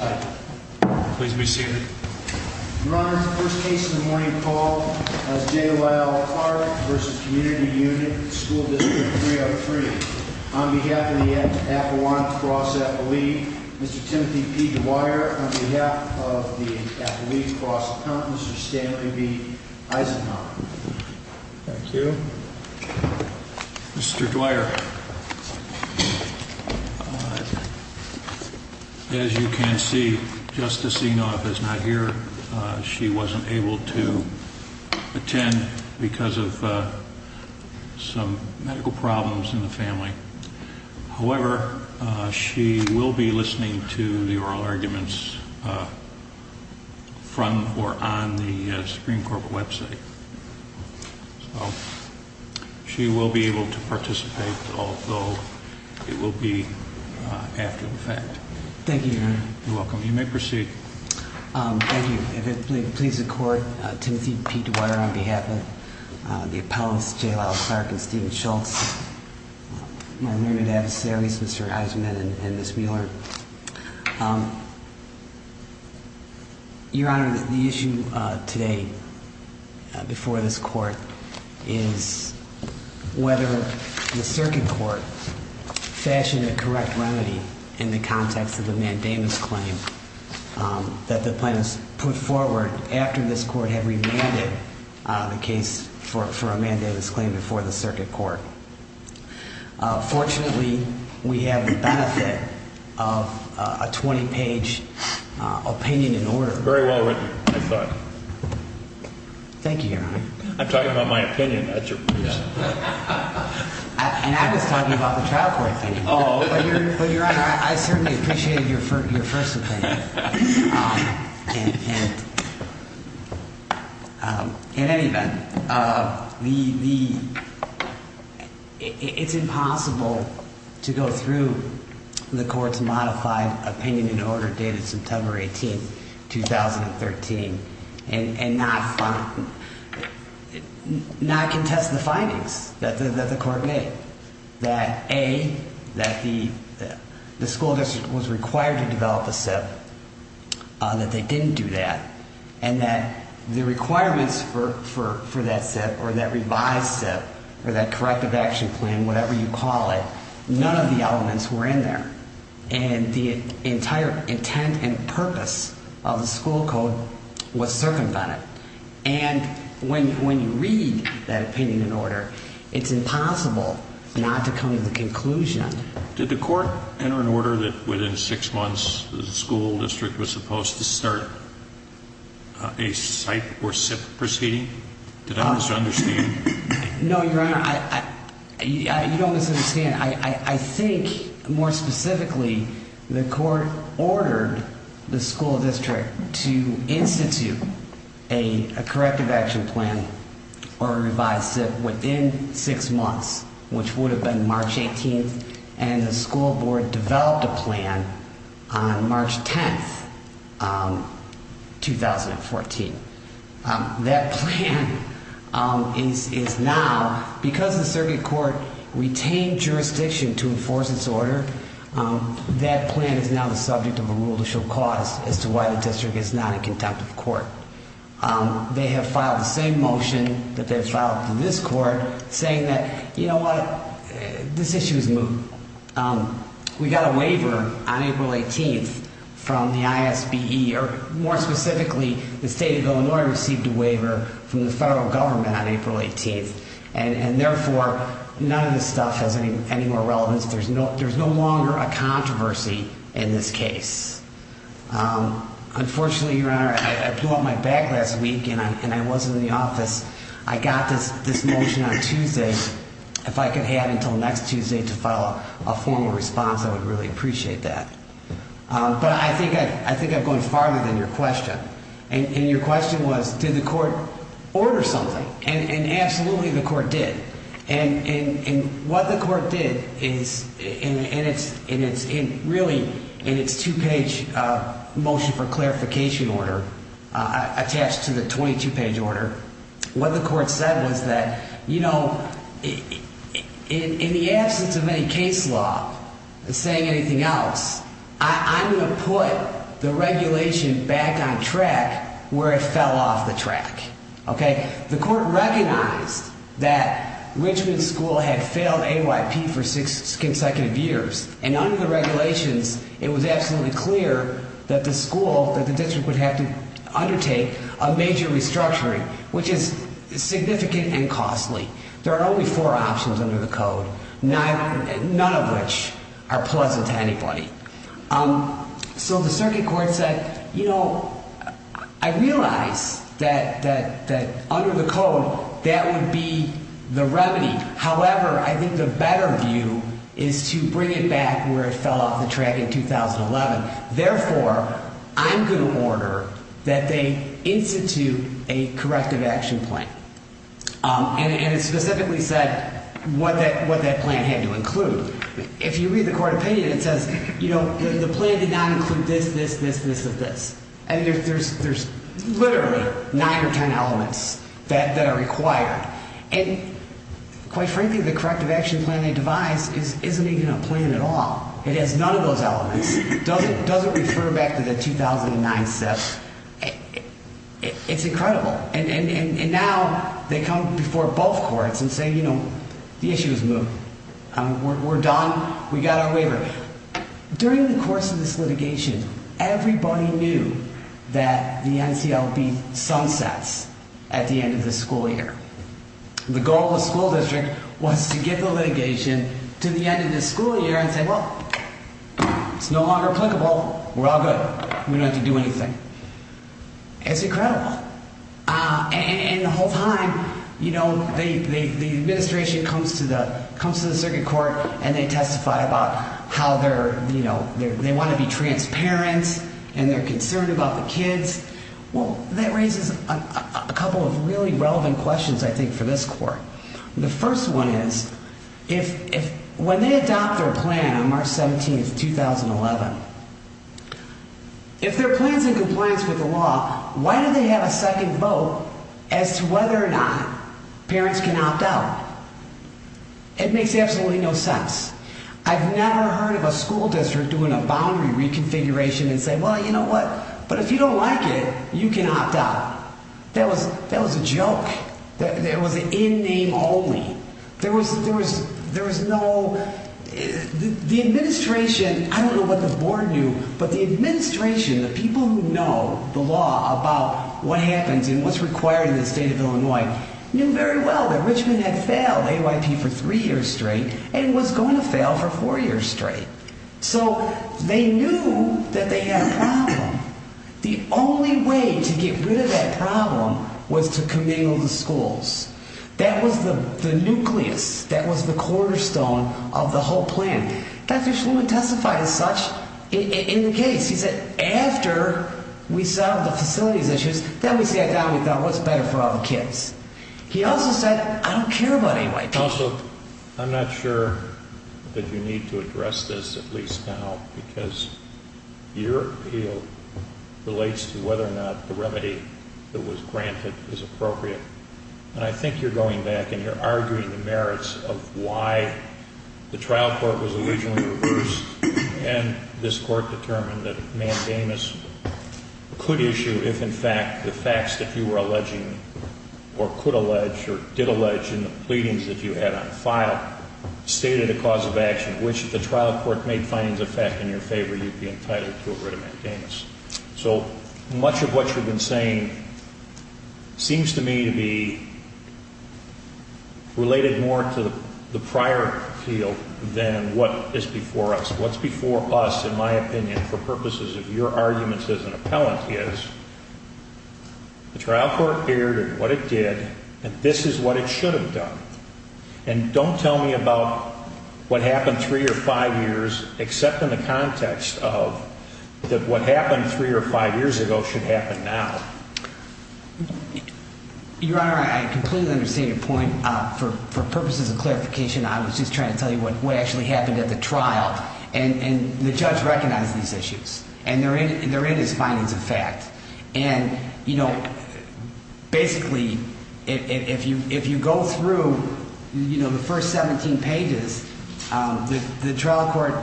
On behalf of the Avalon Cross Athlete, Mr. Timothy P. Dwyer. On behalf of the Athlete Cross Apprentice, Mr. Stanley B. Eisenhower. Thank you. Mr. Dwyer, as you can see, Justice Enoff is not here. She wasn't able to attend because of some medical problems in the family. However, she will be listening to the oral arguments from or on the Supreme Court website. She will be able to participate, although it will be after the fact. Thank you, Your Honor. You're welcome. You may proceed. Thank you. If it pleases the Court, Timothy P. Dwyer on behalf of the appellants, J. Lyle Clark and Stephen Schultz. My learned adversaries, Mr. Eisenman and Ms. Mueller. Your Honor, the issue today before this Court is whether the Circuit Court fashioned a correct remedy in the context of the mandamus claim that the plaintiffs put forward after this Court had remanded the case for a mandamus claim before the Circuit Court. Fortunately, we have the benefit of a 20-page opinion in order. Very well written, I thought. Thank you, Your Honor. I'm talking about my opinion. And I was talking about the trial court opinion. But, Your Honor, I certainly appreciated your first opinion. In any event, it's impossible to go through the Court's modified opinion in order dated September 18, 2013, and not contest the findings that the Court made. That, A, that the school district was required to develop a SIP, that they didn't do that. And that the requirements for that SIP or that revised SIP or that corrective action plan, whatever you call it, none of the elements were in there. And the entire intent and purpose of the school code was circumvented. And when you read that opinion in order, it's impossible not to come to the conclusion. Did the Court enter an order that within six months the school district was supposed to start a SIP or SIP proceeding? Did I misunderstand? No, Your Honor. You don't misunderstand. Again, I think, more specifically, the Court ordered the school district to institute a corrective action plan or a revised SIP within six months, which would have been March 18. And the school board developed a plan on March 10, 2014. That plan is now, because the circuit court retained jurisdiction to enforce its order, that plan is now the subject of a rule to show cause as to why the district is not in contact with the court. They have filed the same motion that they filed to this court saying that, you know what, this issue is moved. We got a waiver on April 18 from the ISBE, or more specifically, the state of Illinois received a waiver from the federal government on April 18. And therefore, none of this stuff has any more relevance. There's no longer a controversy in this case. Unfortunately, Your Honor, I blew up my back last week and I wasn't in the office. I got this motion on Tuesday. If I could have until next Tuesday to file a formal response, I would really appreciate that. But I think I'm going farther than your question. And your question was, did the court order something? And absolutely the court did. And what the court did is, and it's really in its two-page motion for clarification order attached to the 22-page order, what the court said was that, you know, in the absence of any case law saying anything else, I'm going to put the regulation back on track where it fell off the track. The court recognized that Richmond School had failed AYP for six consecutive years. And under the regulations, it was absolutely clear that the school, that the district would have to undertake a major restructuring, which is significant and costly. There are only four options under the code, none of which are pleasant to anybody. So the circuit court said, you know, I realize that under the code, that would be the remedy. However, I think the better view is to bring it back where it fell off the track in 2011. Therefore, I'm going to order that they institute a corrective action plan. And it specifically said what that plan had to include. If you read the court opinion, it says, you know, the plan did not include this, this, this, this, and this. And there's literally nine or ten elements that are required. And quite frankly, the corrective action plan they devised isn't even a plan at all. It has none of those elements. It doesn't refer back to the 2009 steps. It's incredible. And now they come before both courts and say, you know, the issue is moved. We're done. We got our waiver. During the course of this litigation, everybody knew that the NCLB sunsets at the end of the school year. The goal of the school district was to get the litigation to the end of the school year and say, well, it's no longer applicable. We're all good. We don't have to do anything. It's incredible. And the whole time, you know, the administration comes to the circuit court and they testify about how they're, you know, they want to be transparent and they're concerned about the kids. Well, that raises a couple of really relevant questions, I think, for this court. The first one is, when they adopt their plan on March 17th, 2011, if their plan's in compliance with the law, why do they have a second vote as to whether or not parents can opt out? It makes absolutely no sense. I've never heard of a school district doing a boundary reconfiguration and saying, well, you know what, but if you don't like it, you can opt out. That was a joke. It was an in name only. There was no, the administration, I don't know what the board knew, but the administration, the people who know the law about what happens and what's required in the state of Illinois, knew very well that Richmond had failed AYP for three years straight and was going to fail for four years straight. So they knew that they had a problem. The only way to get rid of that problem was to commingle the schools. That was the nucleus. That was the cornerstone of the whole plan. Dr. Shulman testified as such in the case. He said, after we solved the facilities issues, then we sat down and we thought, what's better for all the kids? He also said, I don't care about AYP. Counsel, I'm not sure that you need to address this, at least now, because your appeal relates to whether or not the remedy that was granted is appropriate. And I think you're going back and you're arguing the merits of why the trial court was originally reversed and this court determined that Mandamus could issue if, in fact, the facts that you were alleging or could allege or did allege in the pleadings that you had on file stated a cause of action, which if the trial court made findings of fact in your favor, you'd be entitled to a writ of Mandamus. So much of what you've been saying seems to me to be related more to the prior appeal than what is before us. What's before us, in my opinion, for purposes of your arguments as an appellant, is the trial court erred in what it did and this is what it should have done. And don't tell me about what happened three or five years, except in the context of that what happened three or five years ago should happen now. Your Honor, I completely understand your point. For purposes of clarification, I was just trying to tell you what actually happened at the trial and the judge recognized these issues and they're in his findings of fact. And basically, if you go through the first 17 pages, the trial court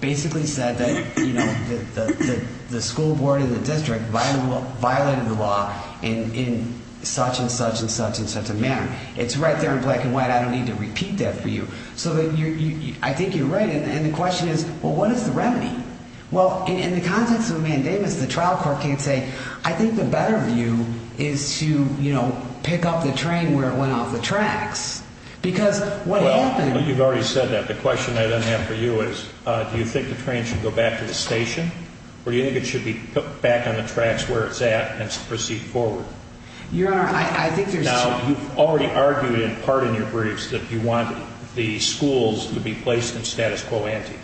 basically said that the school board and the district violated the law in such and such and such and such a manner. It's right there in black and white. I don't need to repeat that for you. So I think you're right. And the question is, well, what is the remedy? Well, in the context of a mandamus, the trial court can't say, I think the better view is to, you know, pick up the train where it went off the tracks. Because what happened... Well, you've already said that. The question I then have for you is, do you think the train should go back to the station or do you think it should be put back on the tracks where it's at and proceed forward? Your Honor, I think there's... Now, you've already argued in part in your briefs that you want the schools to be placed in status quo ante,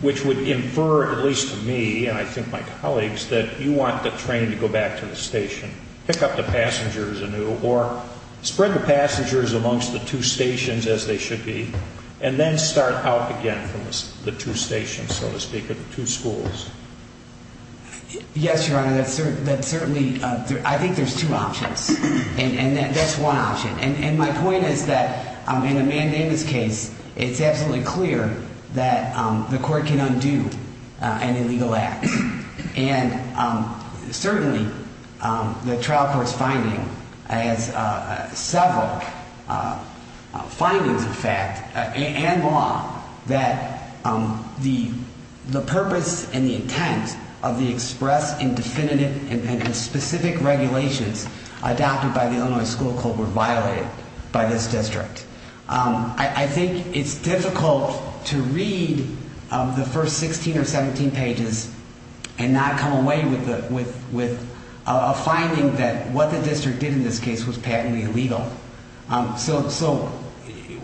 which would infer, at least to me and I think my colleagues, that you want the train to go back to the station, pick up the passengers anew, or spread the passengers amongst the two stations as they should be, and then start out again from the two stations, so to speak, or the two schools. Yes, Your Honor. That certainly... I think there's two options. And that's one option. I think it's difficult to read the first 16 or 17 pages and not come away with a finding that what the district did in this case was patently illegal. So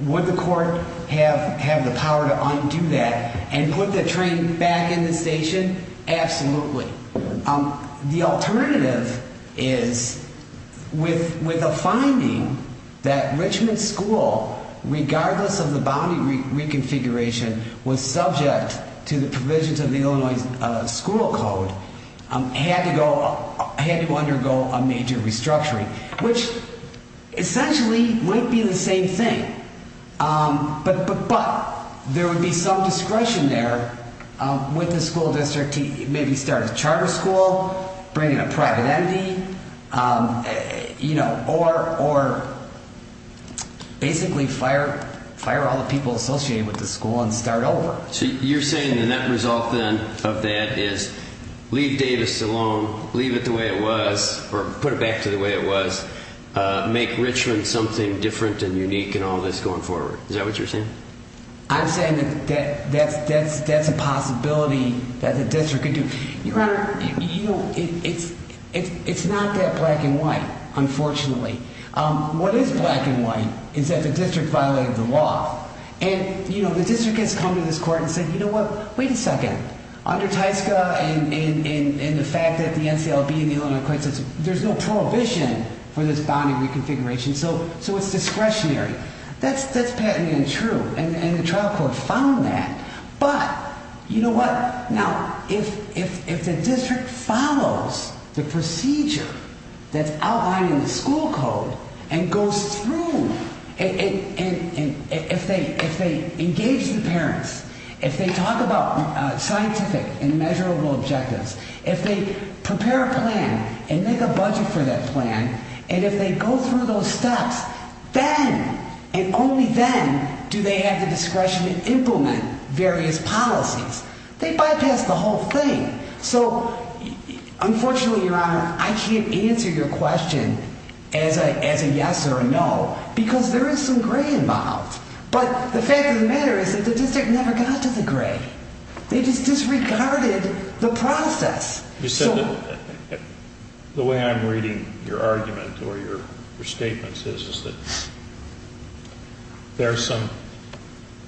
would the court have the power to undo that and put the train back in the station? Absolutely. The alternative is with a finding that Richmond School, regardless of the boundary reconfiguration, was subject to the provisions of the Illinois School Code, had to undergo a major restructuring. Which essentially might be the same thing, but there would be some discretion there with the school district to maybe start a charter school, bring in a private entity, or basically fire all the people associated with the school and start over. So you're saying the net result then of that is leave Davis alone, leave it the way it was, or put it back to the way it was, make Richmond something different and unique and all this going forward. Is that what you're saying? I'm saying that that's a possibility that the district could do. Your Honor, it's not that black and white, unfortunately. What is black and white is that the district violated the law. And the district has come to this court and said, you know what? Wait a second. Under Tyska and the fact that the NCLB and the Illinois Court says there's no prohibition for this boundary reconfiguration, so it's discretionary. That's patently untrue. And the trial court found that. But you know what? Now, if the district follows the procedure that's outlined in the school code and goes through and if they engage the parents, if they talk about scientific and measurable objectives, if they prepare a plan and make a budget for that plan, and if they go through those steps, then and only then do they have the discretion to implement various things. They bypass the whole thing. So, unfortunately, Your Honor, I can't answer your question as a yes or a no because there is some gray involved. But the fact of the matter is that the district never got to the gray. They just disregarded the process. The way I'm reading your argument or your statements is that there are some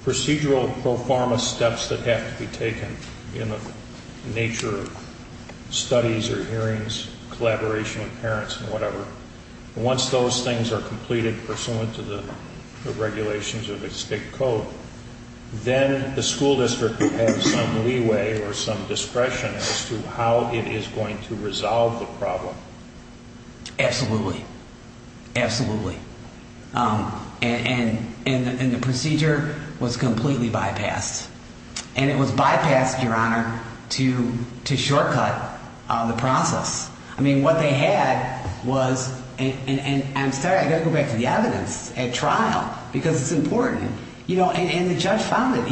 procedural pro forma steps that have to be taken in the nature of studies or hearings, collaboration with parents and whatever. Once those things are completed pursuant to the regulations of the state code, then the school district has some leeway or some discretion as to how it is going to resolve the problem. Absolutely. Absolutely. And the procedure was completely bypassed. And it was bypassed, Your Honor, to shortcut the process. I mean, what they had was, and I'm sorry, I've got to go back to the evidence at trial because it's important. You know, and the judge found it.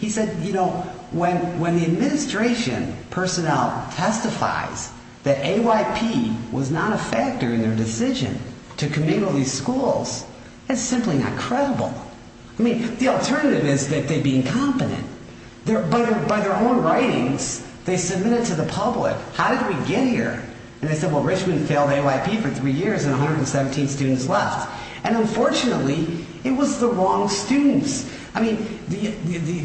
He said, you know, when the administration personnel testifies that AYP was not a factor in their decision to committal these schools, that's simply not credible. I mean, the alternative is that they'd be incompetent. But by their own writings, they submit it to the public. So how did we get here? And they said, well, Richmond failed AYP for three years and 117 students left. And unfortunately, it was the wrong students. I mean, the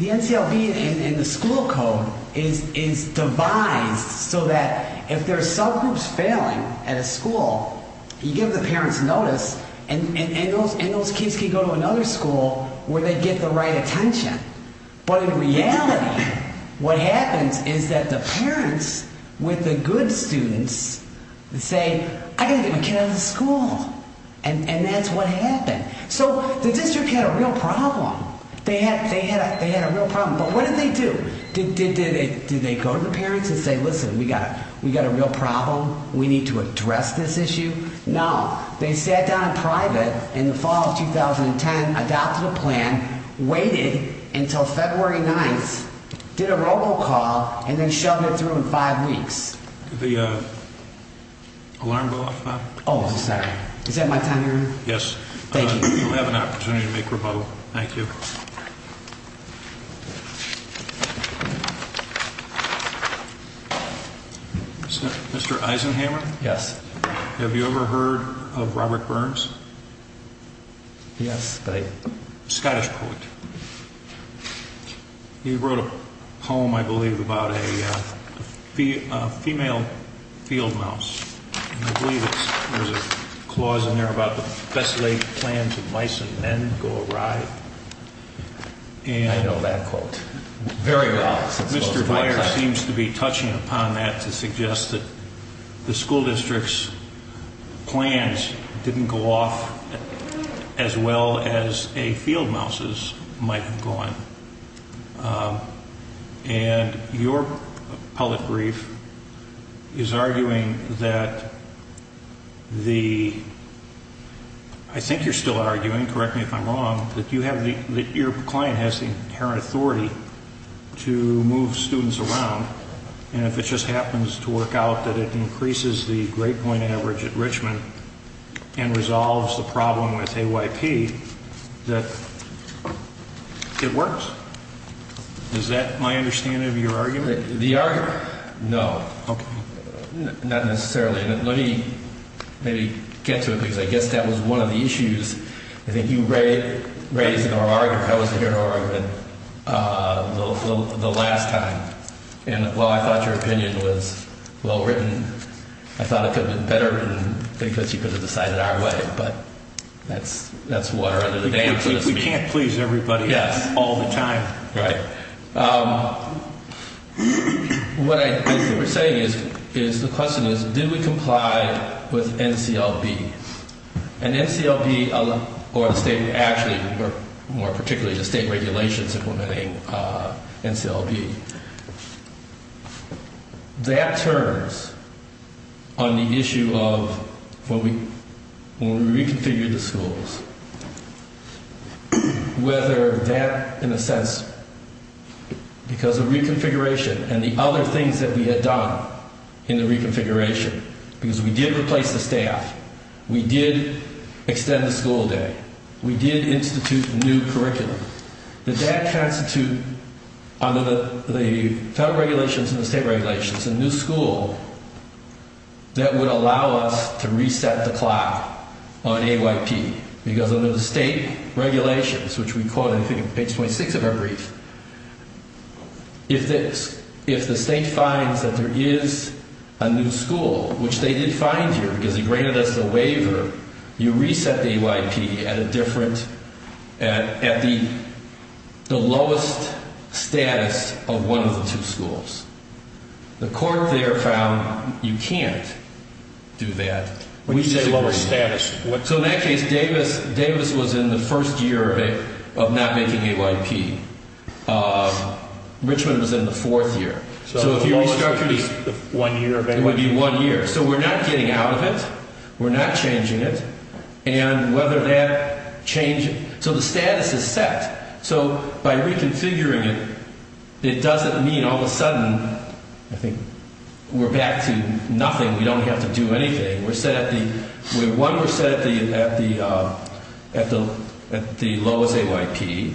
NCLB and the school code is devised so that if there are subgroups failing at a school, you give the parents notice and those kids can go to another school where they get the right attention. But in reality, what happens is that the parents with the good students say, I've got to get my kid out of the school. And that's what happened. So the district had a real problem. They had a real problem. But what did they do? Did they go to the parents and say, listen, we've got a real problem. We need to address this issue. No. They sat down in private in the fall of 2010, adopted a plan, waited until February 9th, did a robocall, and then shoved it through in five weeks. Could the alarm go off now? Oh, I'm sorry. Is that my time here? Yes. Thank you. You'll have an opportunity to make rebuttal. Thank you. Mr. Eisenhammer? Yes. Have you ever heard of Robert Burns? Yes. Scottish poet. He wrote a poem, I believe, about a female field mouse. I believe there's a clause in there about the best laid plans of mice and men go awry. I know that quote very well. Mr. Dyer seems to be touching upon that to suggest that the school district's plans didn't go off as well as a field mouse's might have gone. And your public brief is arguing that the, I think you're still arguing, correct me if I'm wrong, that your client has the inherent authority to move students around. And if it just happens to work out that it increases the grade point average at Richmond and resolves the problem with AYP, that it works. Is that my understanding of your argument? The argument? No. Okay. Not necessarily. Let me maybe get to it, because I guess that was one of the issues. I think you raised in our argument, if I wasn't here in our argument, the last time. And while I thought your opinion was well written, I thought it could have been better written because you could have decided our way. But that's what our argument is. We can't please everybody all the time. Right. What I think you're saying is the question is, did we comply with NCLB? And NCLB or the state, actually, more particularly the state regulations implementing NCLB. That turns on the issue of when we reconfigured the schools, whether that, in a sense, because of reconfiguration and the other things that we had done in the reconfiguration, because we did replace the staff, we did extend the school day, we did institute the new curriculum, that that constitutes, under the federal regulations and the state regulations, a new school that would allow us to reset the clock on AYP. Because under the state regulations, which we call, I think, page 26 of our brief, if the state finds that there is a new school, which they did find here because they granted us a waiver, you reset the AYP at the lowest status of one of the two schools. The court there found you can't do that. What do you mean lowest status? So in that case, Davis was in the first year of not making AYP. Richmond was in the fourth year. So if you restructured it, it would be one year. So we're not getting out of it. We're not changing it. And whether that change, so the status is set. So by reconfiguring it, it doesn't mean all of a sudden, I think, we're back to nothing. We don't have to do anything. One, we're set at the lowest AYP.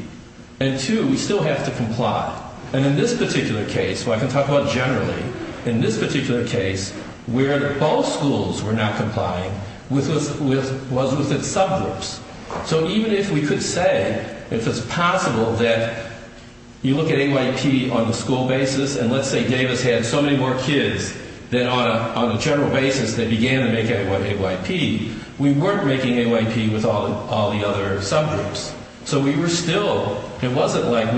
And two, we still have to comply. And in this particular case, where I can talk about generally, in this particular case, where both schools were not complying was with its subgroups. So even if we could say, if it's possible that you look at AYP on the school basis, and let's say Davis had so many more kids than on a general basis they began to make AYP, we weren't making AYP with all the other subgroups. So we were still, it wasn't like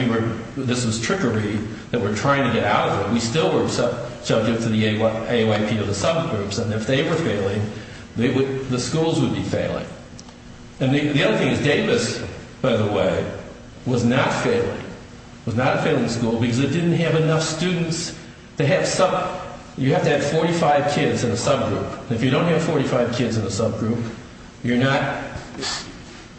this was trickery that we're trying to get out of it. We still were subject to the AYP of the subgroups. And the other thing is Davis, by the way, was not failing. It was not a failing school because it didn't have enough students. They have some, you have to have 45 kids in a subgroup. If you don't have 45 kids in a subgroup, you're not,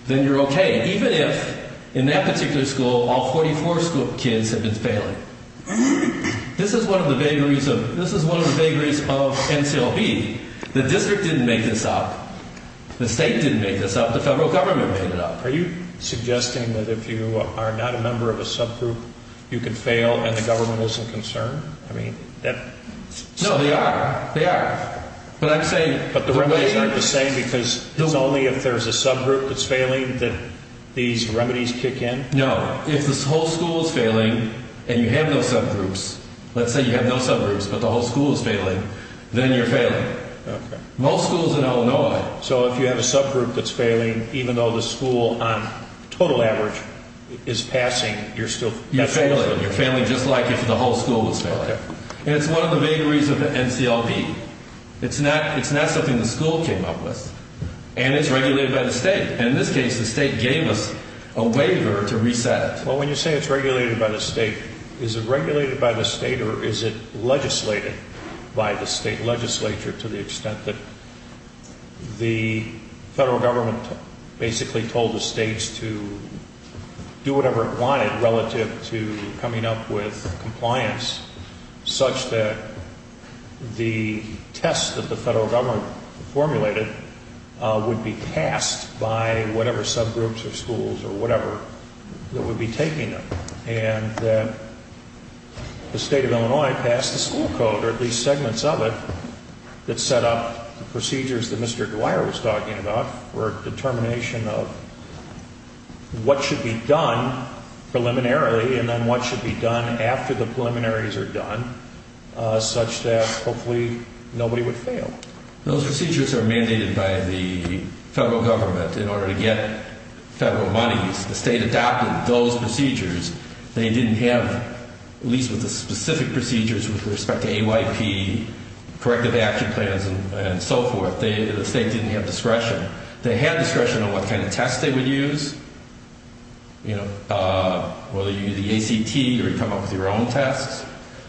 then you're okay. Even if, in that particular school, all 44 kids have been failing. This is one of the vagaries of, this is one of the vagaries of NCLB. The district didn't make this up. The state didn't make this up. The federal government made it up. Are you suggesting that if you are not a member of a subgroup, you can fail and the government isn't concerned? I mean, that's... No, they are. They are. But I'm saying... But the remedies aren't the same because it's only if there's a subgroup that's failing that these remedies kick in? No. If this whole school is failing and you have no subgroups, Most schools in Illinois... So if you have a subgroup that's failing, even though the school, on total average, is passing, you're still... You're failing. You're failing just like if the whole school was failing. And it's one of the vagaries of the NCLB. It's not something the school came up with. And it's regulated by the state. And in this case, the state gave us a waiver to reset it. Well, when you say it's regulated by the state, is it regulated by the state or is it legislated by the state legislature to the extent that the federal government basically told the states to do whatever it wanted relative to coming up with compliance such that the test that the federal government formulated would be passed by whatever subgroups or schools or whatever that would be taking them and that the state of Illinois passed a school code or at least segments of it that set up the procedures that Mr. Dwyer was talking about for determination of what should be done preliminarily and then what should be done after the preliminaries are done such that hopefully nobody would fail. Those procedures are mandated by the federal government in order to get federal monies. The state adopted those procedures. They didn't have, at least with the specific procedures with respect to AYP, corrective action plans, and so forth. The state didn't have discretion. They had discretion on what kind of tests they would use, whether you do the ACT or you come up with your own tests.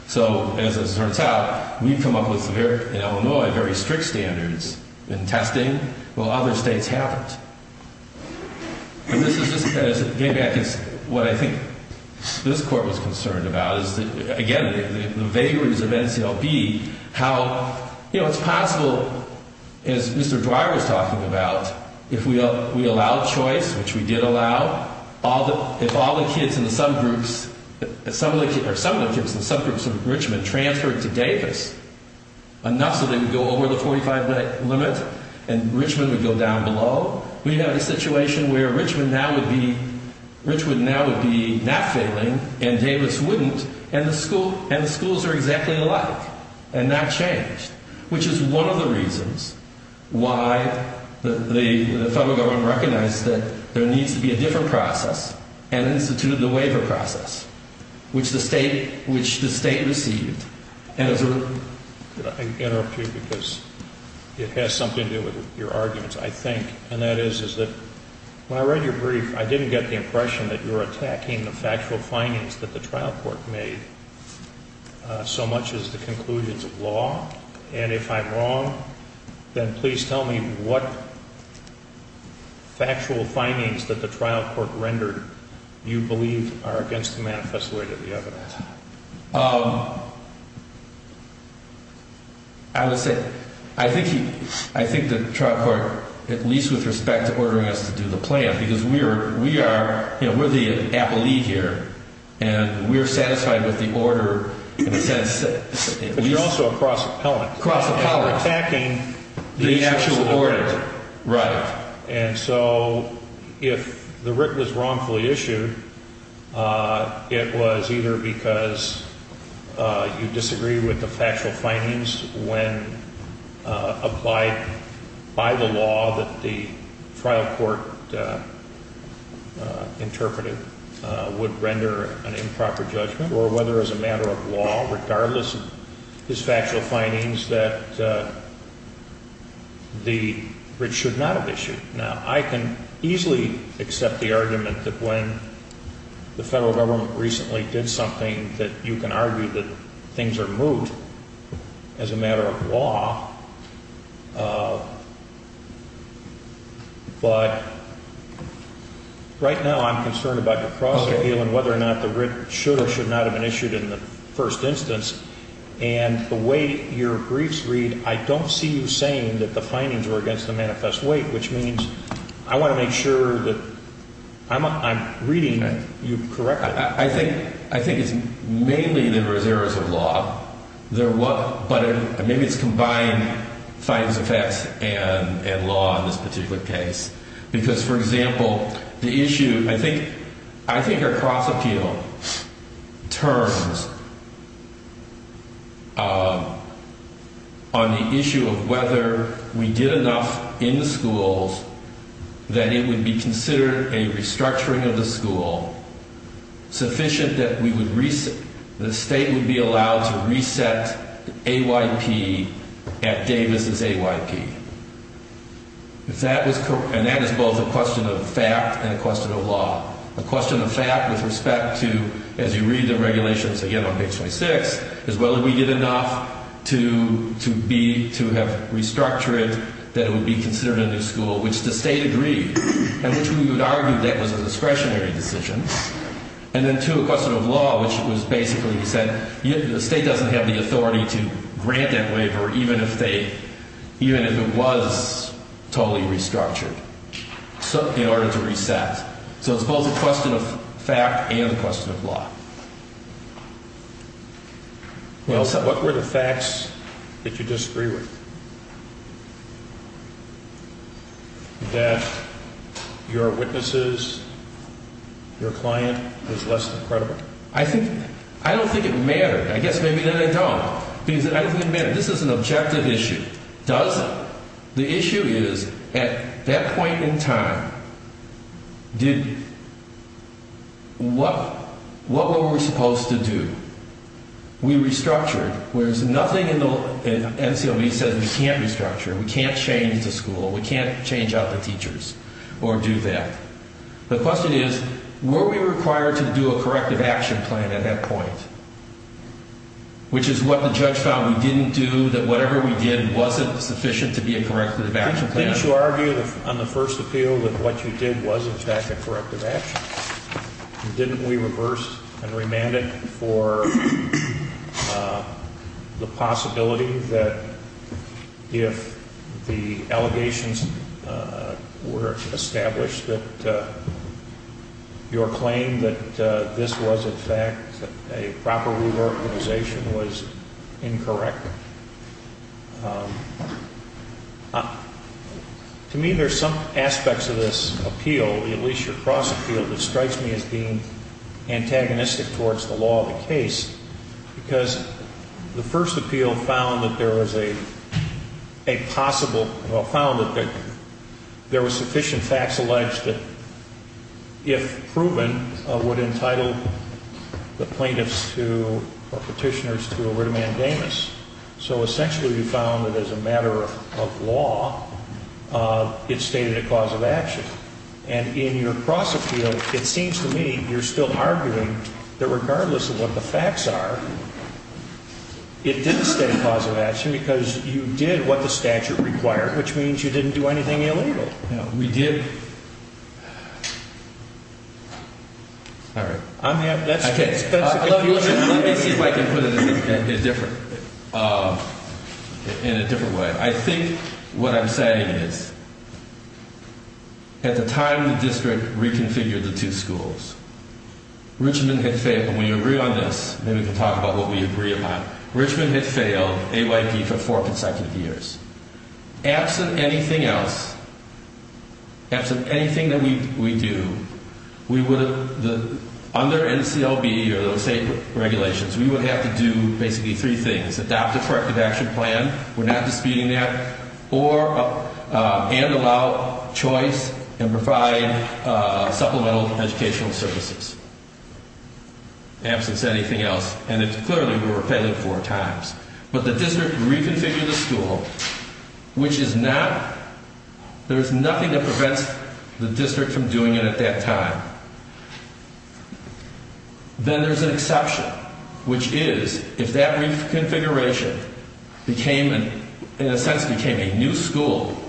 So as it turns out, we've come up with, in Illinois, very strict standards in testing while other states haven't. And this is, as it came back, is what I think this Court was concerned about, is that, again, the vagaries of NCLB, how, you know, it's possible, as Mr. Dwyer was talking about, if we allowed choice, which we did allow, if all the kids in the subgroups, or some of the kids in the subgroups of Richmond transferred to Davis enough so they would go over the 45-minute limit and Richmond would go down below, we'd have a situation where Richmond now would be not failing and Davis wouldn't, and the schools are exactly alike and not changed, which is one of the reasons why the federal government recognized that there needs to be a different process and instituted the waiver process, which the state received. I interrupt you because it has something to do with your arguments, I think, and that is that when I read your brief, I didn't get the impression that you were attacking the factual findings that the trial court made so much as the conclusions of law. And if I'm wrong, then please tell me what factual findings that the trial court rendered you believe are against the manifesto of the evidence. I would say I think the trial court, at least with respect to ordering us to do the plan, because we are the appellee here and we're satisfied with the order in a sense. But you're also a cross appellant. Cross appellant. You're attacking the actual order. Right. And so if the writ was wrongfully issued, it was either because you disagree with the factual findings when applied by the law that the trial court interpreted would render an improper judgment, or whether as a matter of law, regardless of his factual findings, that the writ should not have been issued. Now, I can easily accept the argument that when the federal government recently did something, that you can argue that things are moot as a matter of law. But right now I'm concerned about your cross appeal and whether or not the writ should or should not have been issued in the first instance. And the way your briefs read, I don't see you saying that the findings were against the manifest weight, which means I want to make sure that I'm reading you correctly. I think it's mainly that there is errors of law, but maybe it's combined findings of facts and law in this particular case. Because, for example, I think our cross appeal turns on the issue of whether we did enough in the schools that it would be considered a restructuring of the school, sufficient that the state would be allowed to reset AYP at Davis' AYP. And that is both a question of fact and a question of law. A question of fact with respect to, as you read the regulations again on page 26, is whether we did enough to have restructured that it would be considered a new school, which the state agreed, and which we would argue that was a discretionary decision. And then two, a question of law, which was basically, you said, the state doesn't have the authority to grant that waiver even if it was totally restructured in order to reset. So it's both a question of fact and a question of law. What were the facts that you disagree with? That your witnesses, your client, was less than credible? I don't think it mattered. I guess maybe that I don't. Because I don't think it mattered. This is an objective issue. Does it? The issue is, at that point in time, what were we supposed to do? We restructured, whereas nothing in the NCOB says we can't restructure, we can't change the school, we can't change out the teachers or do that. The question is, were we required to do a corrective action plan at that point, which is what the judge found we didn't do, that whatever we did wasn't sufficient to be a corrective action plan? Didn't you argue on the first appeal that what you did was, in fact, a corrective action? Didn't we reverse and remand it for the possibility that if the allegations were established that your claim that this was, in fact, a proper reorganization was incorrect? To me, there's some aspects of this appeal, the Alicia Cross appeal, that strikes me as being antagonistic towards the law of the case, because the first appeal found that there was a possible, well, found that there was sufficient facts alleged that, if proven, would entitle the plaintiffs or petitioners to a writ of mandamus. So, essentially, you found that, as a matter of law, it stated a cause of action. And in your cross appeal, it seems to me you're still arguing that, regardless of what the facts are, it didn't state a cause of action because you did what the statute required, which means you didn't do anything illegal. No, we did. All right. I mean, that's the case. Okay. Let me see if I can put it in a different way. I think what I'm saying is, at the time the district reconfigured the two schools, Richmond had failed, and we agree on this, then we can talk about what we agree upon. Richmond had failed, AYP, for four consecutive years. Absent anything else, absent anything that we do, we would, under NCLB or those same regulations, we would have to do basically three things. Adopt a corrective action plan. We're not disputing that. Or, and allow choice and provide supplemental educational services. Absence anything else. And, clearly, we were failing four times. But the district reconfigured the school, which is not, there's nothing that prevents the district from doing it at that time. Then there's an exception, which is, if that reconfiguration became, in a sense became a new school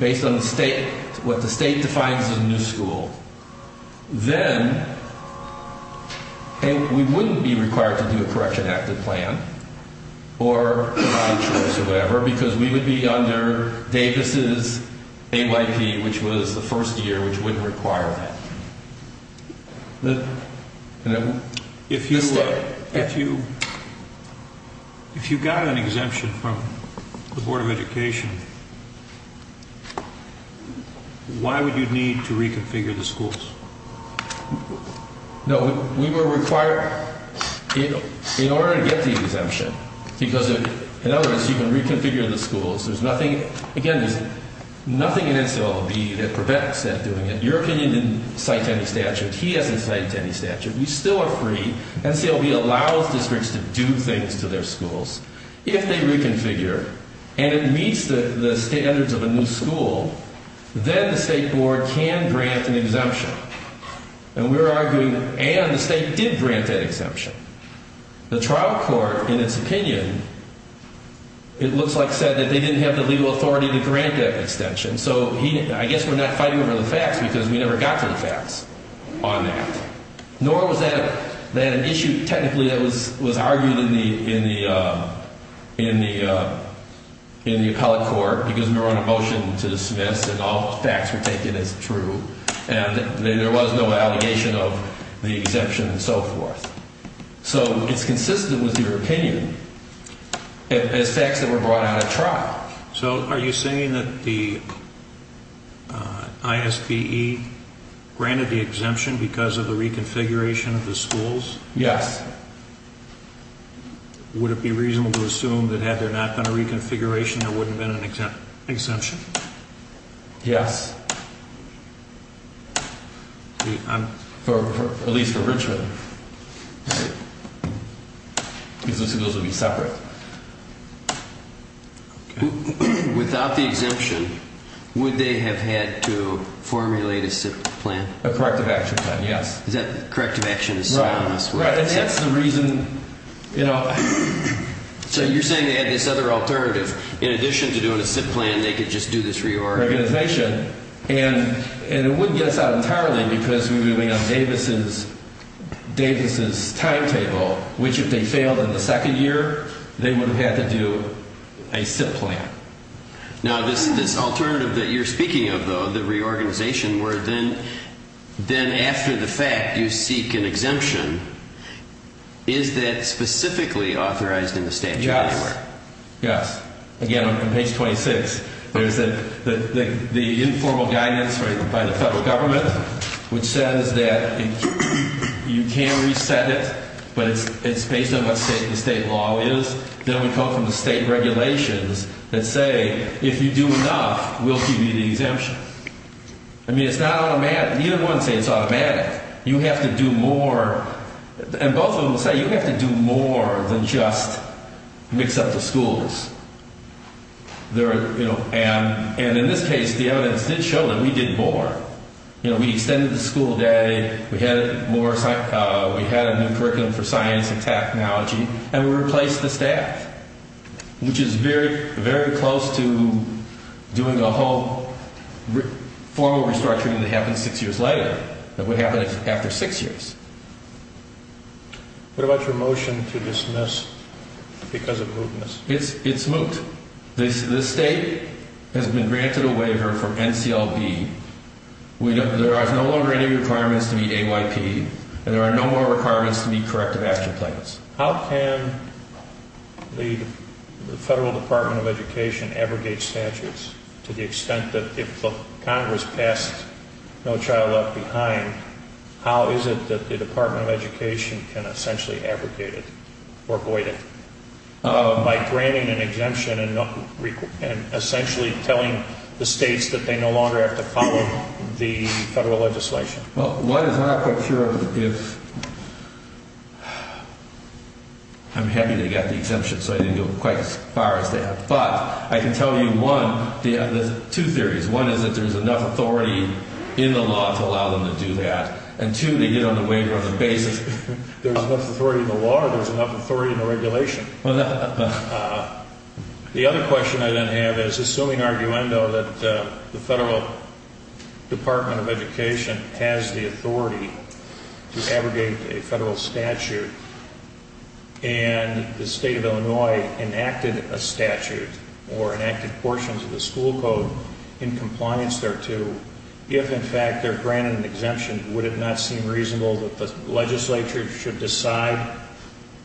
based on the state, what the state defines as a new school, then we wouldn't be required to do a correction active plan or provide choice or whatever, because we would be under Davis' AYP, which was the first year, which wouldn't require that. The state. If you got an exemption from the Board of Education, why would you need to reconfigure the schools? No, we were required, in order to get the exemption, because, in other words, you can reconfigure the schools. There's nothing, again, there's nothing in NCLB that prevents that doing it. Your opinion didn't cite any statute. He hasn't cited any statute. We still are free. NCLB allows districts to do things to their schools. If they reconfigure and it meets the standards of a new school, then the state board can grant an exemption. And we were arguing, and the state did grant that exemption. The trial court, in its opinion, it looks like said that they didn't have the legal authority to grant that extension. So I guess we're not fighting over the facts, because we never got to the facts on that. Nor was that an issue, technically, that was argued in the appellate court, because we were on a motion to dismiss and all facts were taken as true, and there was no allegation of the exemption and so forth. So it's consistent with your opinion, as facts that were brought out at trial. So are you saying that the ISPE granted the exemption because of the reconfiguration of the schools? Yes. Would it be reasonable to assume that had there not been a reconfiguration, there wouldn't have been an exemption? Yes. At least for Richmond. Because the schools would be separate. Without the exemption, would they have had to formulate a SIP plan? A corrective action plan, yes. Is that corrective action? Right, and that's the reason, you know. So you're saying they had this other alternative, in addition to doing a SIP plan, they could just do this reorganization. And it wouldn't get us out entirely, because we were moving on Davis's timetable, which if they failed in the second year, they would have had to do a SIP plan. Now, this alternative that you're speaking of, though, the reorganization, where then after the fact you seek an exemption, is that specifically authorized in the statute? Yes, yes. Again, on page 26, there's the informal guidance by the federal government, which says that you can reset it, but it's based on what the state law is. Then we come from the state regulations that say if you do enough, we'll give you the exemption. I mean, it's not automatic. Neither one says it's automatic. You have to do more, and both of them say you have to do more than just mix up the schools. And in this case, the evidence did show that we did more. You know, we extended the school day, we had a new curriculum for science and technology, and we replaced the staff, which is very, very close to doing a whole formal restructuring that happens six years later, that would happen after six years. What about your motion to dismiss because of mootness? It's moot. It's moot. This state has been granted a waiver from NCLB. There are no longer any requirements to meet AYP, and there are no more requirements to meet corrective action plans. How can the Federal Department of Education abrogate statutes to the extent that if the Congress passed No Child Left Behind, how is it that the Department of Education can essentially abrogate it or void it? By granting an exemption and essentially telling the states that they no longer have to follow the federal legislation. Well, one is that I'm not quite sure if... I'm happy they got the exemption, so I didn't go quite as far as they have. But I can tell you, one, there's two theories. One is that there's enough authority in the law to allow them to do that, and two, they get on the waiver on the basis that there's enough authority in the law to allow there's enough authority in the regulation. The other question I then have is, assuming, arguendo, that the Federal Department of Education has the authority to abrogate a federal statute and the state of Illinois enacted a statute or enacted portions of the school code in compliance thereto, if, in fact, they're granted an exemption, would it not seem reasonable that the legislature should decide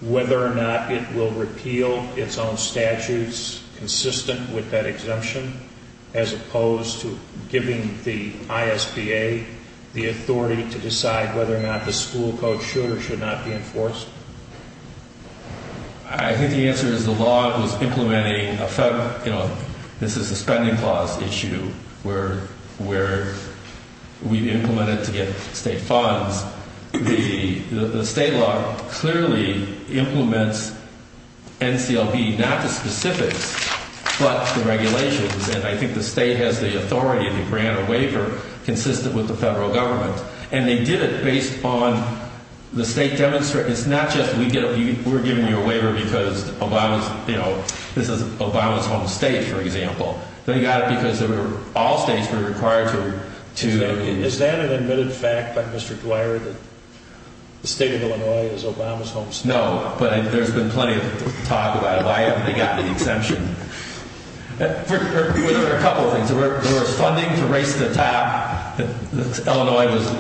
whether or not it will repeal its own statutes consistent with that exemption, as opposed to giving the ISPA the authority to decide whether or not the school code should or should not be enforced? I think the answer is the law was implementing a federal... This is a spending clause issue where we've implemented to get state funds. The state law clearly implements NCLP, not the specifics, but the regulations. And I think the state has the authority to grant a waiver consistent with the federal government. And they did it based on the state demonstrate... It's not just we're giving you a waiver because, you know, this is Obama's home state, for example. They got it because all states were required to... Is that an admitted fact by Mr. Dwyer that the state of Illinois is Obama's home state? No, but there's been plenty of talk about it. Why haven't they gotten the exemption? There were a couple of things. There was funding to race to the top. Illinois was,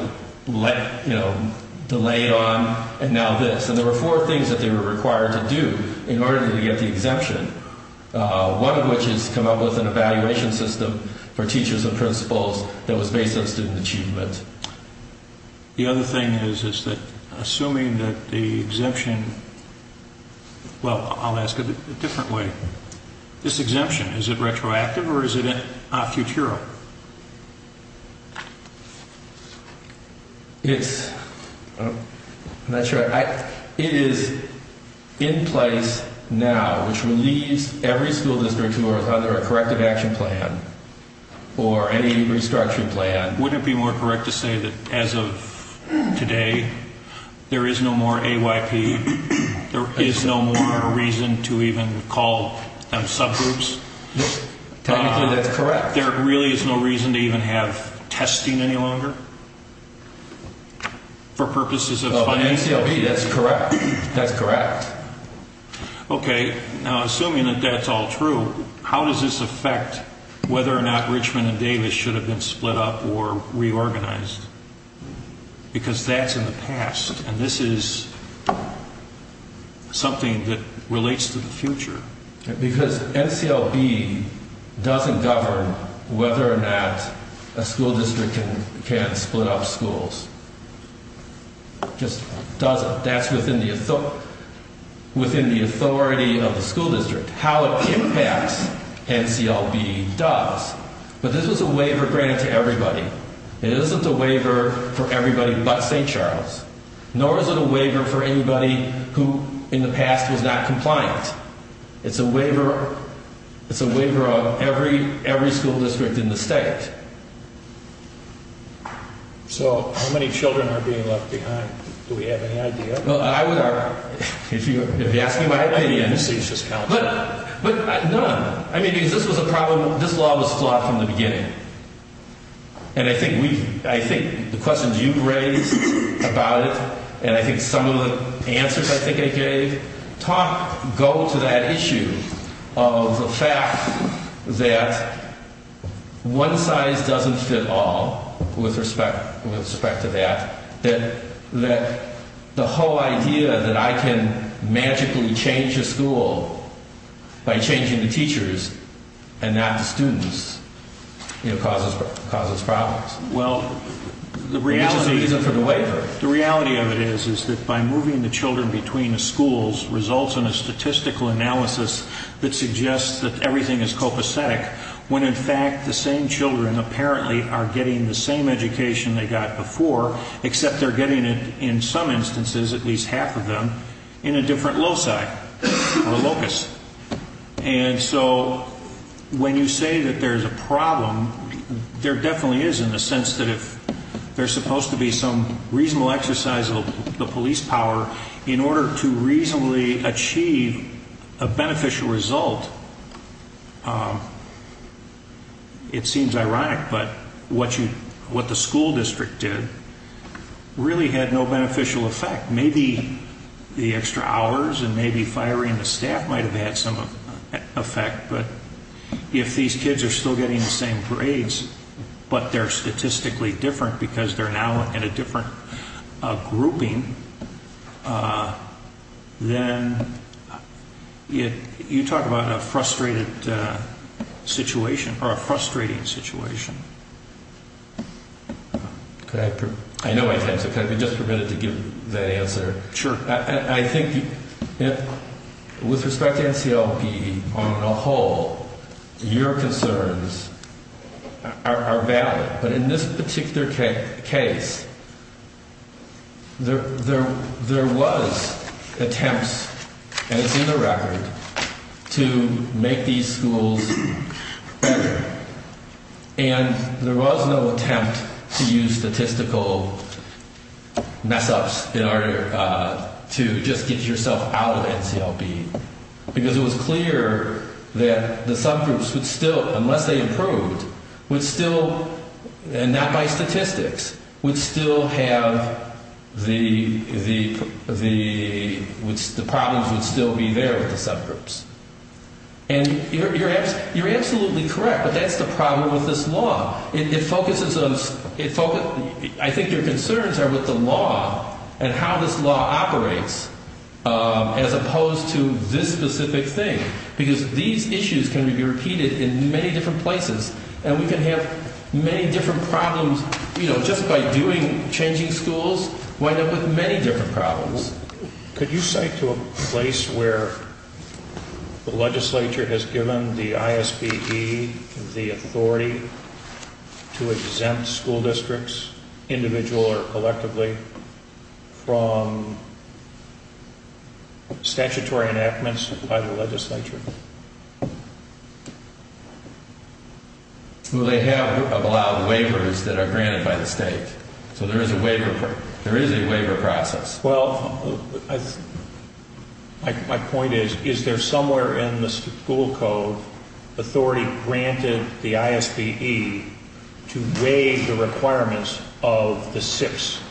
you know, delayed on. And now this. And there were four things that they were required to do in order to get the exemption, one of which is to come up with an evaluation system for teachers and principals that was based on student achievement. The other thing is that assuming that the exemption... Well, I'll ask it a different way. This exemption, is it retroactive or is it futural? It's... I'm not sure. It is in place now, which relieves every school district who are with either a corrective action plan or any restructuring plan. Would it be more correct to say that as of today, there is no more AYP? There is no more reason to even call them subgroups? Technically, that's correct. There really is no reason to even have testing any longer for purposes of funding? Well, in ACLB, that's correct. That's correct. Now, assuming that that's all true, how does this affect whether or not Richmond and Davis should have been split up or reorganized? Because that's in the past and this is something that relates to the future. Because NCLB doesn't govern whether or not a school district can split up schools. Just doesn't. That's within the authority of the school district. How it impacts NCLB does. But this is a waiver granted to everybody. It isn't a waiver for everybody but St. Charles. Nor is it a waiver for anybody who in the past was not compliant. It's a waiver of every school district in the state. So how many children are being left behind? Do we have any idea? If you ask me my opinion. But none. This law was flawed from the beginning. And I think the questions you've raised about it and I think some of the answers I think I gave go to that issue of the fact that one size doesn't fit all with respect to that. That the whole idea that I can magically change a school by changing the teachers and not the students causes problems. Which is the reason for the waiver. The reality of it is that by moving the children between the schools results in a statistical analysis that suggests that everything is copacetic when in fact the same children apparently are getting the same education they got before except they're getting it in some instances at least half of them in a different loci or locus. And so when you say that there's a problem there definitely is in the sense that if there's supposed to be some reasonable exercise of the police power in order to reasonably achieve a beneficial result it seems ironic but what the school district did really had no beneficial effect. Maybe the extra hours and maybe firing the staff might have had some effect but if these kids are still getting the same grades but they're statistically different because they're now in a different grouping then you talk about a frustrated situation or a frustrating situation. I know my time is up can I be just permitted to give that answer? Sure. I think with respect to NCLP on a whole your concerns are valid but in this particular case there was attempts and it's in the record to make these schools better and there was no attempt to use statistical mess ups in order to just get yourself out of NCLP because it was clear that the subgroups would still unless they improved would still and not by statistics would still have the problems would still be there with the subgroups. And you're absolutely correct that's the problem with this law. It focuses on I think your concerns are with the law and how this law operates as opposed to this specific thing because these issues can be repeated in many different places and we can have many different problems just by changing schools wind up with many different problems. Could you say to a place where the legislature has given the ISBE the authority to exempt school districts individual or collectively from statutory enactments by the legislature? Well they have allowed waivers that are granted by the state so there is a waiver process. Well my point is is there somewhere in the school code authority granted the ISBE to waive the requirements of the six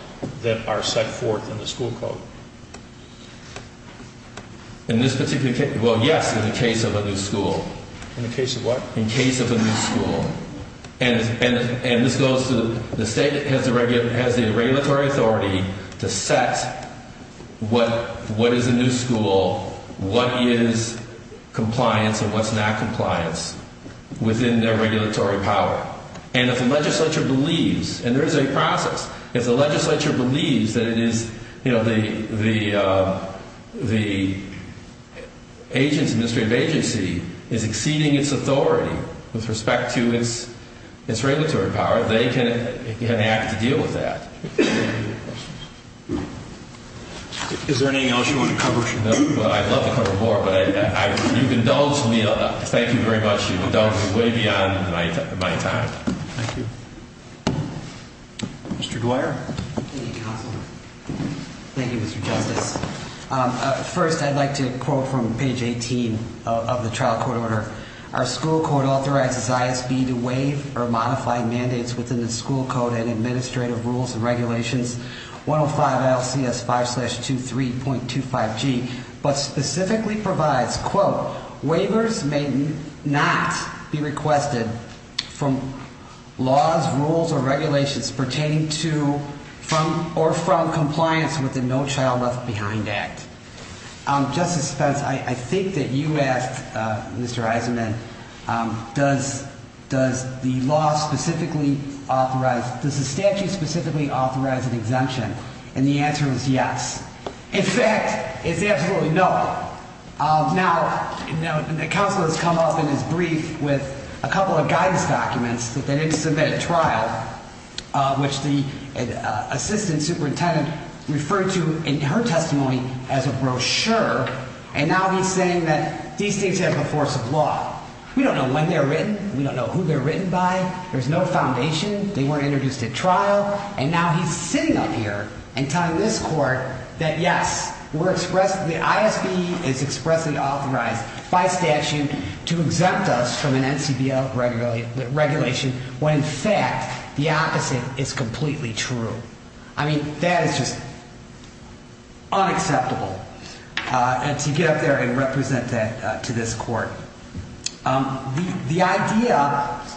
that are set forth in the school code? In this particular case well yes in the case of a new school. In the case of what? In the case of a new school. And this goes to the state has the regulatory authority to set what is a new school what is compliance and what is not compliance within their regulatory power. And if the legislature believes and there is a process if the legislature believes that it is the agency is exceeding its authority with respect to its regulatory power they can act to deal with that. Is there anything else you want to cover? I would love to cover more but thank you very much you have gone way beyond my time. Thank you. Mr. Dwyer. Thank you counsel. Thank you Mr. Justice. First I'd like to quote from page 18 of the trial court order. Our school code authorizes ISBE to waive or modify mandates within the school code and administrative rules and regulations 105 LCS 5-23.25 G but specifically provides quote waivers may not be requested from laws, rules or regulations pertaining to or from compliance with the No Child Left Behind Act. Justice Spence I think that you asked Mr. Eisenman does the law specifically authorize does the statute specifically authorize an exemption and the answer is yes. In fact it's absolutely no. Now the counsel has come up in his brief with a couple of guidance documents that they didn't submit at trial which the assistant superintendent referred to in her testimony as a brochure and now he's saying that these things have the force of law. We don't know when they're written. We don't know who they're written by. There's no foundation. They weren't introduced at trial and now he's sitting up here and telling this court that yes the ISB is expressly authorized by statute to exempt us from an NCBO regulation when in fact the opposite is completely true. I mean that is just unacceptable to get up there and represent that to this court. The idea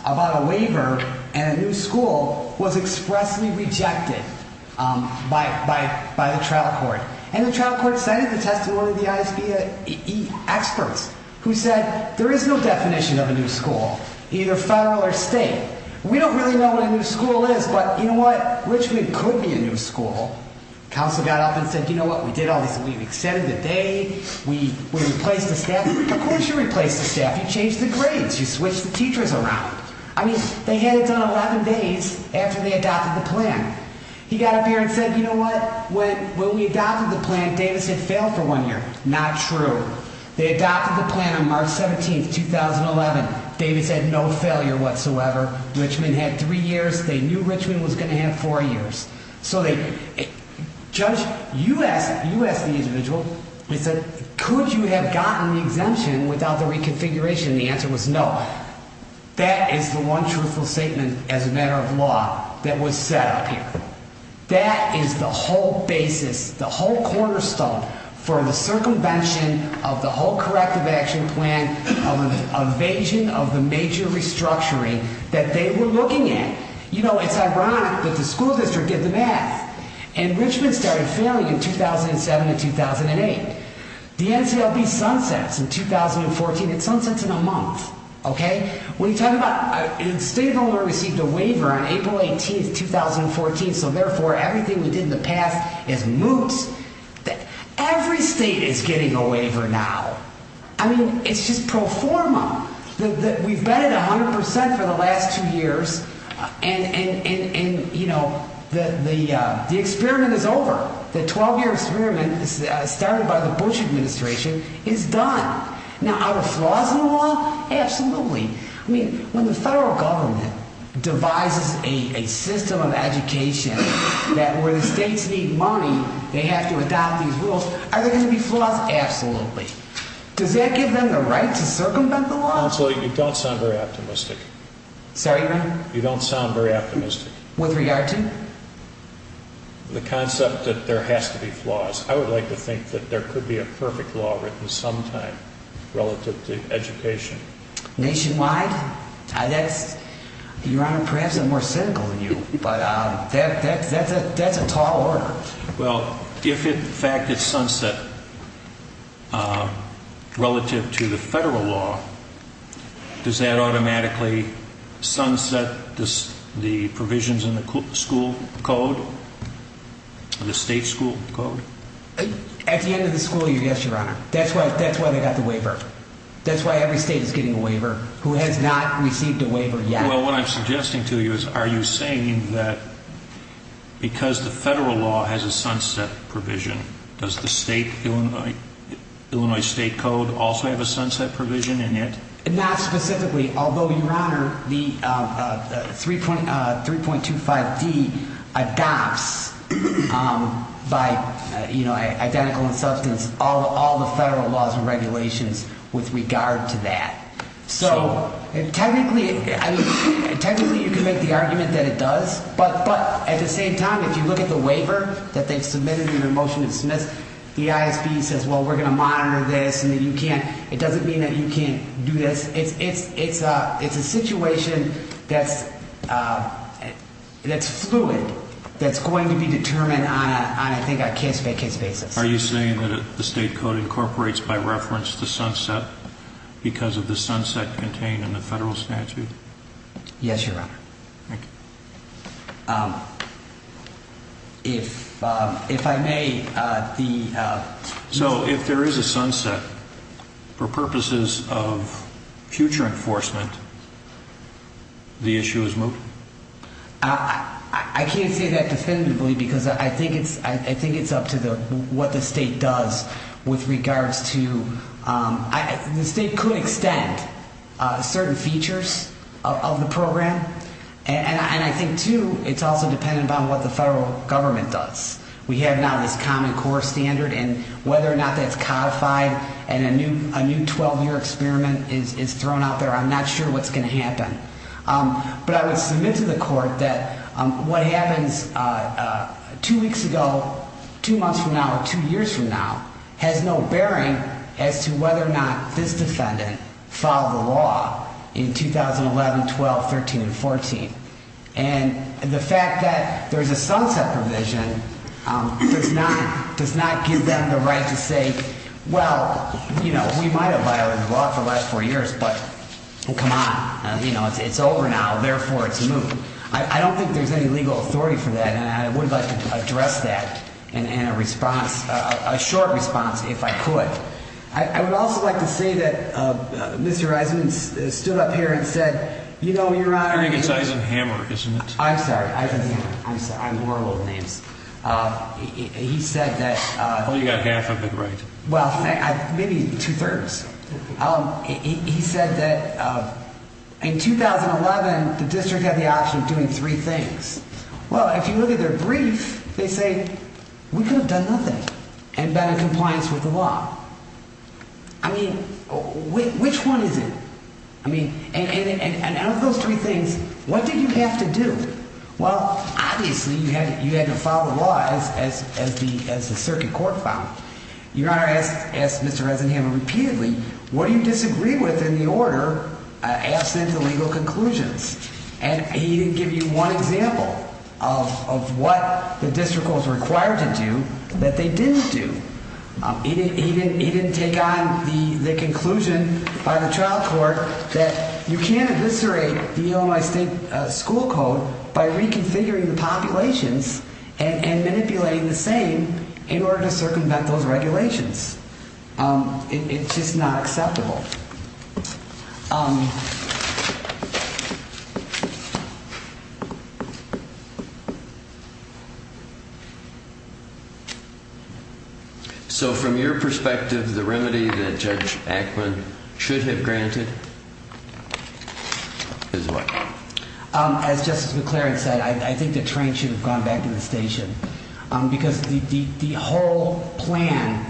about a waiver and a new school was expressly rejected by the trial court and the trial court cited the testimony of the ISB experts who said there is no definition of a new school either federal or state. We don't really know what a new school is but you know what Richmond could be a new school. The counsel got up and said you know what we did all these we extended the day we replaced the staff. Of course you replaced the staff. You changed the grades. You switched the teachers around. I mean they had it done 11 days after they adopted the plan. He got up here and said you know what when we adopted the plan Davis had failed for one year. Not true. They adopted the plan on March 17, 2011. Davis had no failure whatsoever. Richmond had three years. They knew Richmond was going to have four years. So they judge you asked you asked the individual they said could you have gotten the exemption without the reconfiguration and the answer was no. That is the one truthful statement as a matter of law that was set up here. That is the whole basis the whole cornerstone for the circumvention of the whole corrective action plan of an evasion of the major restructuring that they were looking at. You know it's ironic that the school district did the math. And Richmond started failing in 2007 and 2008. The NCLB sunsets in 2014 it sunsets in a month. Okay. When you talk about the state of Illinois received a waiver on April 18th 2014 so therefore everything we did in the past is moot. Every state is getting a waiver now. I mean it's just pro forma. We have bet it 100% two years and you know the experiment is over. The 12 year experiment started by the Bush administration is done. Now are there flaws in the law? Absolutely. I mean when the federal government devises a system of education that where the states need money they have to adopt these rules are there going to be flaws? Absolutely. Does that give them the right to circumvent the law? Counselor you don't sound very optimistic. Sorry ma'am? You don't sound very optimistic. With regard to? The concept that there has to be flaws. I would like to think that there could be a perfect law written sometime relative to education. Nationwide? That's perhaps I'm more cynical than you but that's a tall order. Well if in fact it's sunset relative to the federal law does that automatically sunset the provisions in the school code? The state school code? At the end of the school year yes your honor. That's why they got the waiver. That's why every state is getting a waiver who has not received a waiver yet. Well what I'm suggesting to you is are you saying that because the federal law has a sunset provision does the state Illinois state code also have a sunset provision in it? Not specifically although your honor the 3.25d adopts by you know identical in terms of regulations with regard to that. So technically you can make the argument that it does but at the same time if you look at the waiver that they submitted in their motion to dismiss the ISB says well we're going to monitor this and you can't it doesn't mean you can't do this. It's a situation that's that's fluid that's going to be determined on a case-by-case basis. Are you saying that the state code incorporates by reference the sunset because of the sunset contained in the federal statute? Yes your honor. Thank you. If I may the question is if there is a sunset for purposes of future enforcement the issue is moved? I can't say that definitively because I think it's up to what the state does with regards to the state could extend certain features of the program and I think too it's also dependent on what the federal government does. We have now this common core standard and whether or not that's codified and a new 12 year experiment is thrown out there I'm not sure what's going to happen. But I would submit to the court that what happens two weeks ago, two months from now, two years from now, has no bearing as to whether or not this defendant filed the law in 2011, 12, 13 and 14. And the fact that there's a sunset provision does not give them the right to say well, you know, we might have violated the law for the last four years. So I would like a short response if I could. I would also like to say that Mr. Eisenman stood up here and said, you know, your Honor, I'm sorry, I'm sorry, I wore old names. He said that, well, maybe two-thirds, he said that in 2011, the district had the option of doing three things. Well, if you look at their brief, they say we could have done nothing and been in compliance with the law. I mean, which one is it? I mean, and out of those three things, what did you have to do? Well, obviously, you had to file the order as the circuit court found. Your Honor asked Mr. Eisenman repeatedly, what do you disagree with in the order absent the legal conclusions? And he didn't give you one example of what the district was required to do that they didn't do. He didn't take on the conclusion by the we should have done the same in order to circumvent those regulations. It's just not acceptable. So from your perspective, the remedy that Judge Ackman should have granted is what? As Justice McLaren said, I think the train should have gone back to the station. Because the whole plan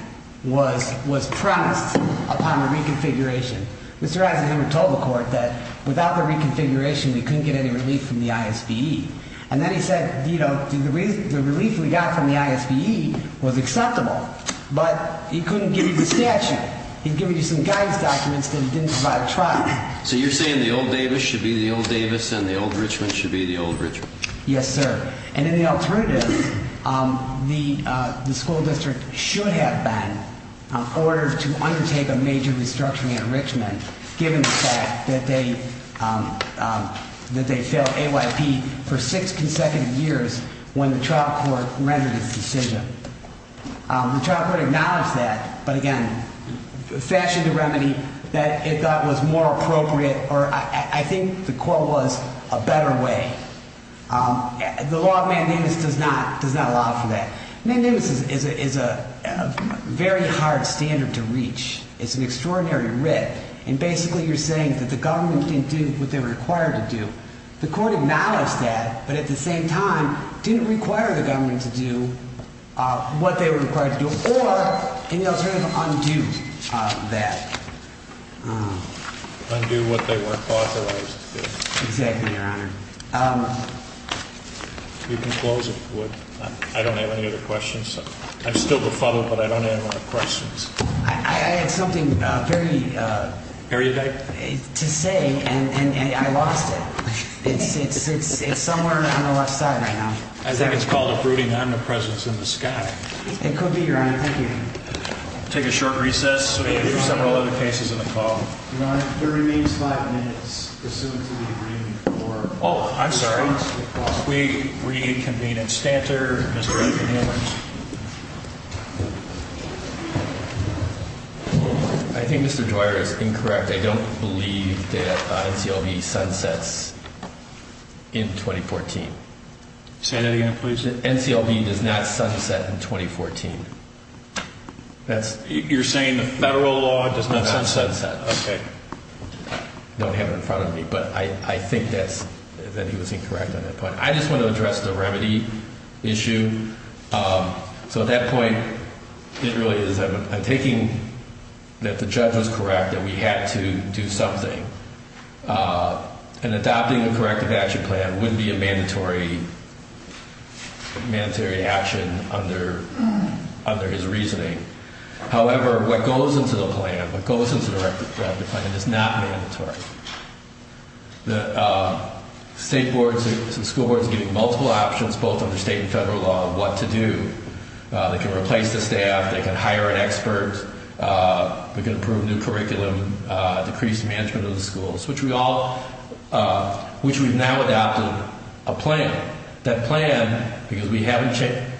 was promised upon the reconfiguration. Mr. Eisenman told the court that without the reconfiguration we couldn't get any relief from the ISBE. And then he said the relief we got from the ISBE was acceptable. But he couldn't give you the statute. He gave you some guidance documents that he didn't provide. So you're saying the old Davis should be the old Davis and the old Richmond should be the old Richmond? Yes, sir. And in the alternative, the school district should have been ordered to undertake a major restructuring in Richmond given the fact that they failed AYP for six consecutive years when the trial court rendered its decision. The trial court acknowledged that, but again fashioned the remedy that it thought was more appropriate or I think the court was a better way. The law does not allow for that. And then Davis is a very hard standard to reach. It's an extraordinary writ. And basically you're saying that the government didn't do what they were required to do. The court acknowledged that, but at the same time didn't require the government to do what they were required to do or in the alternative undo that. Undo what they weren't authorized to do. Exactly, Your Honor. You can close if you would. I don't have any other questions. I'm still befuddled, but I don't have any more questions. I had something very to say and I lost it. It's somewhere on the left there. I don't believe that NCLB sunsets in 2014. I don't believe that NCLB sunsets in 2014. I don't believe that NCLB sunsets in 2014. that NCLB does not sunset in 2014. You're saying the federal law does not sunset? I just want to address the remedy issue. At that point, I'm taking that the judge was correct that we had to do something and adopting a corrective action plan wouldn't be a mandatory action under his reasoning. However, what goes into the plan is not mandatory. State boards and school boards are giving multiple options under state and federal law. They can replace staff, hire an expert, improve new curriculum, decrease management of the schools, which we've now adopted a plan. That plan, because we have federal law, is not mandatory. That plan, because we have to do it under federal law, is not mandatory. That do it under federal law, is not mandatory. That plan, because we have to do it under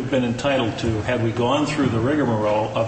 federal law, is not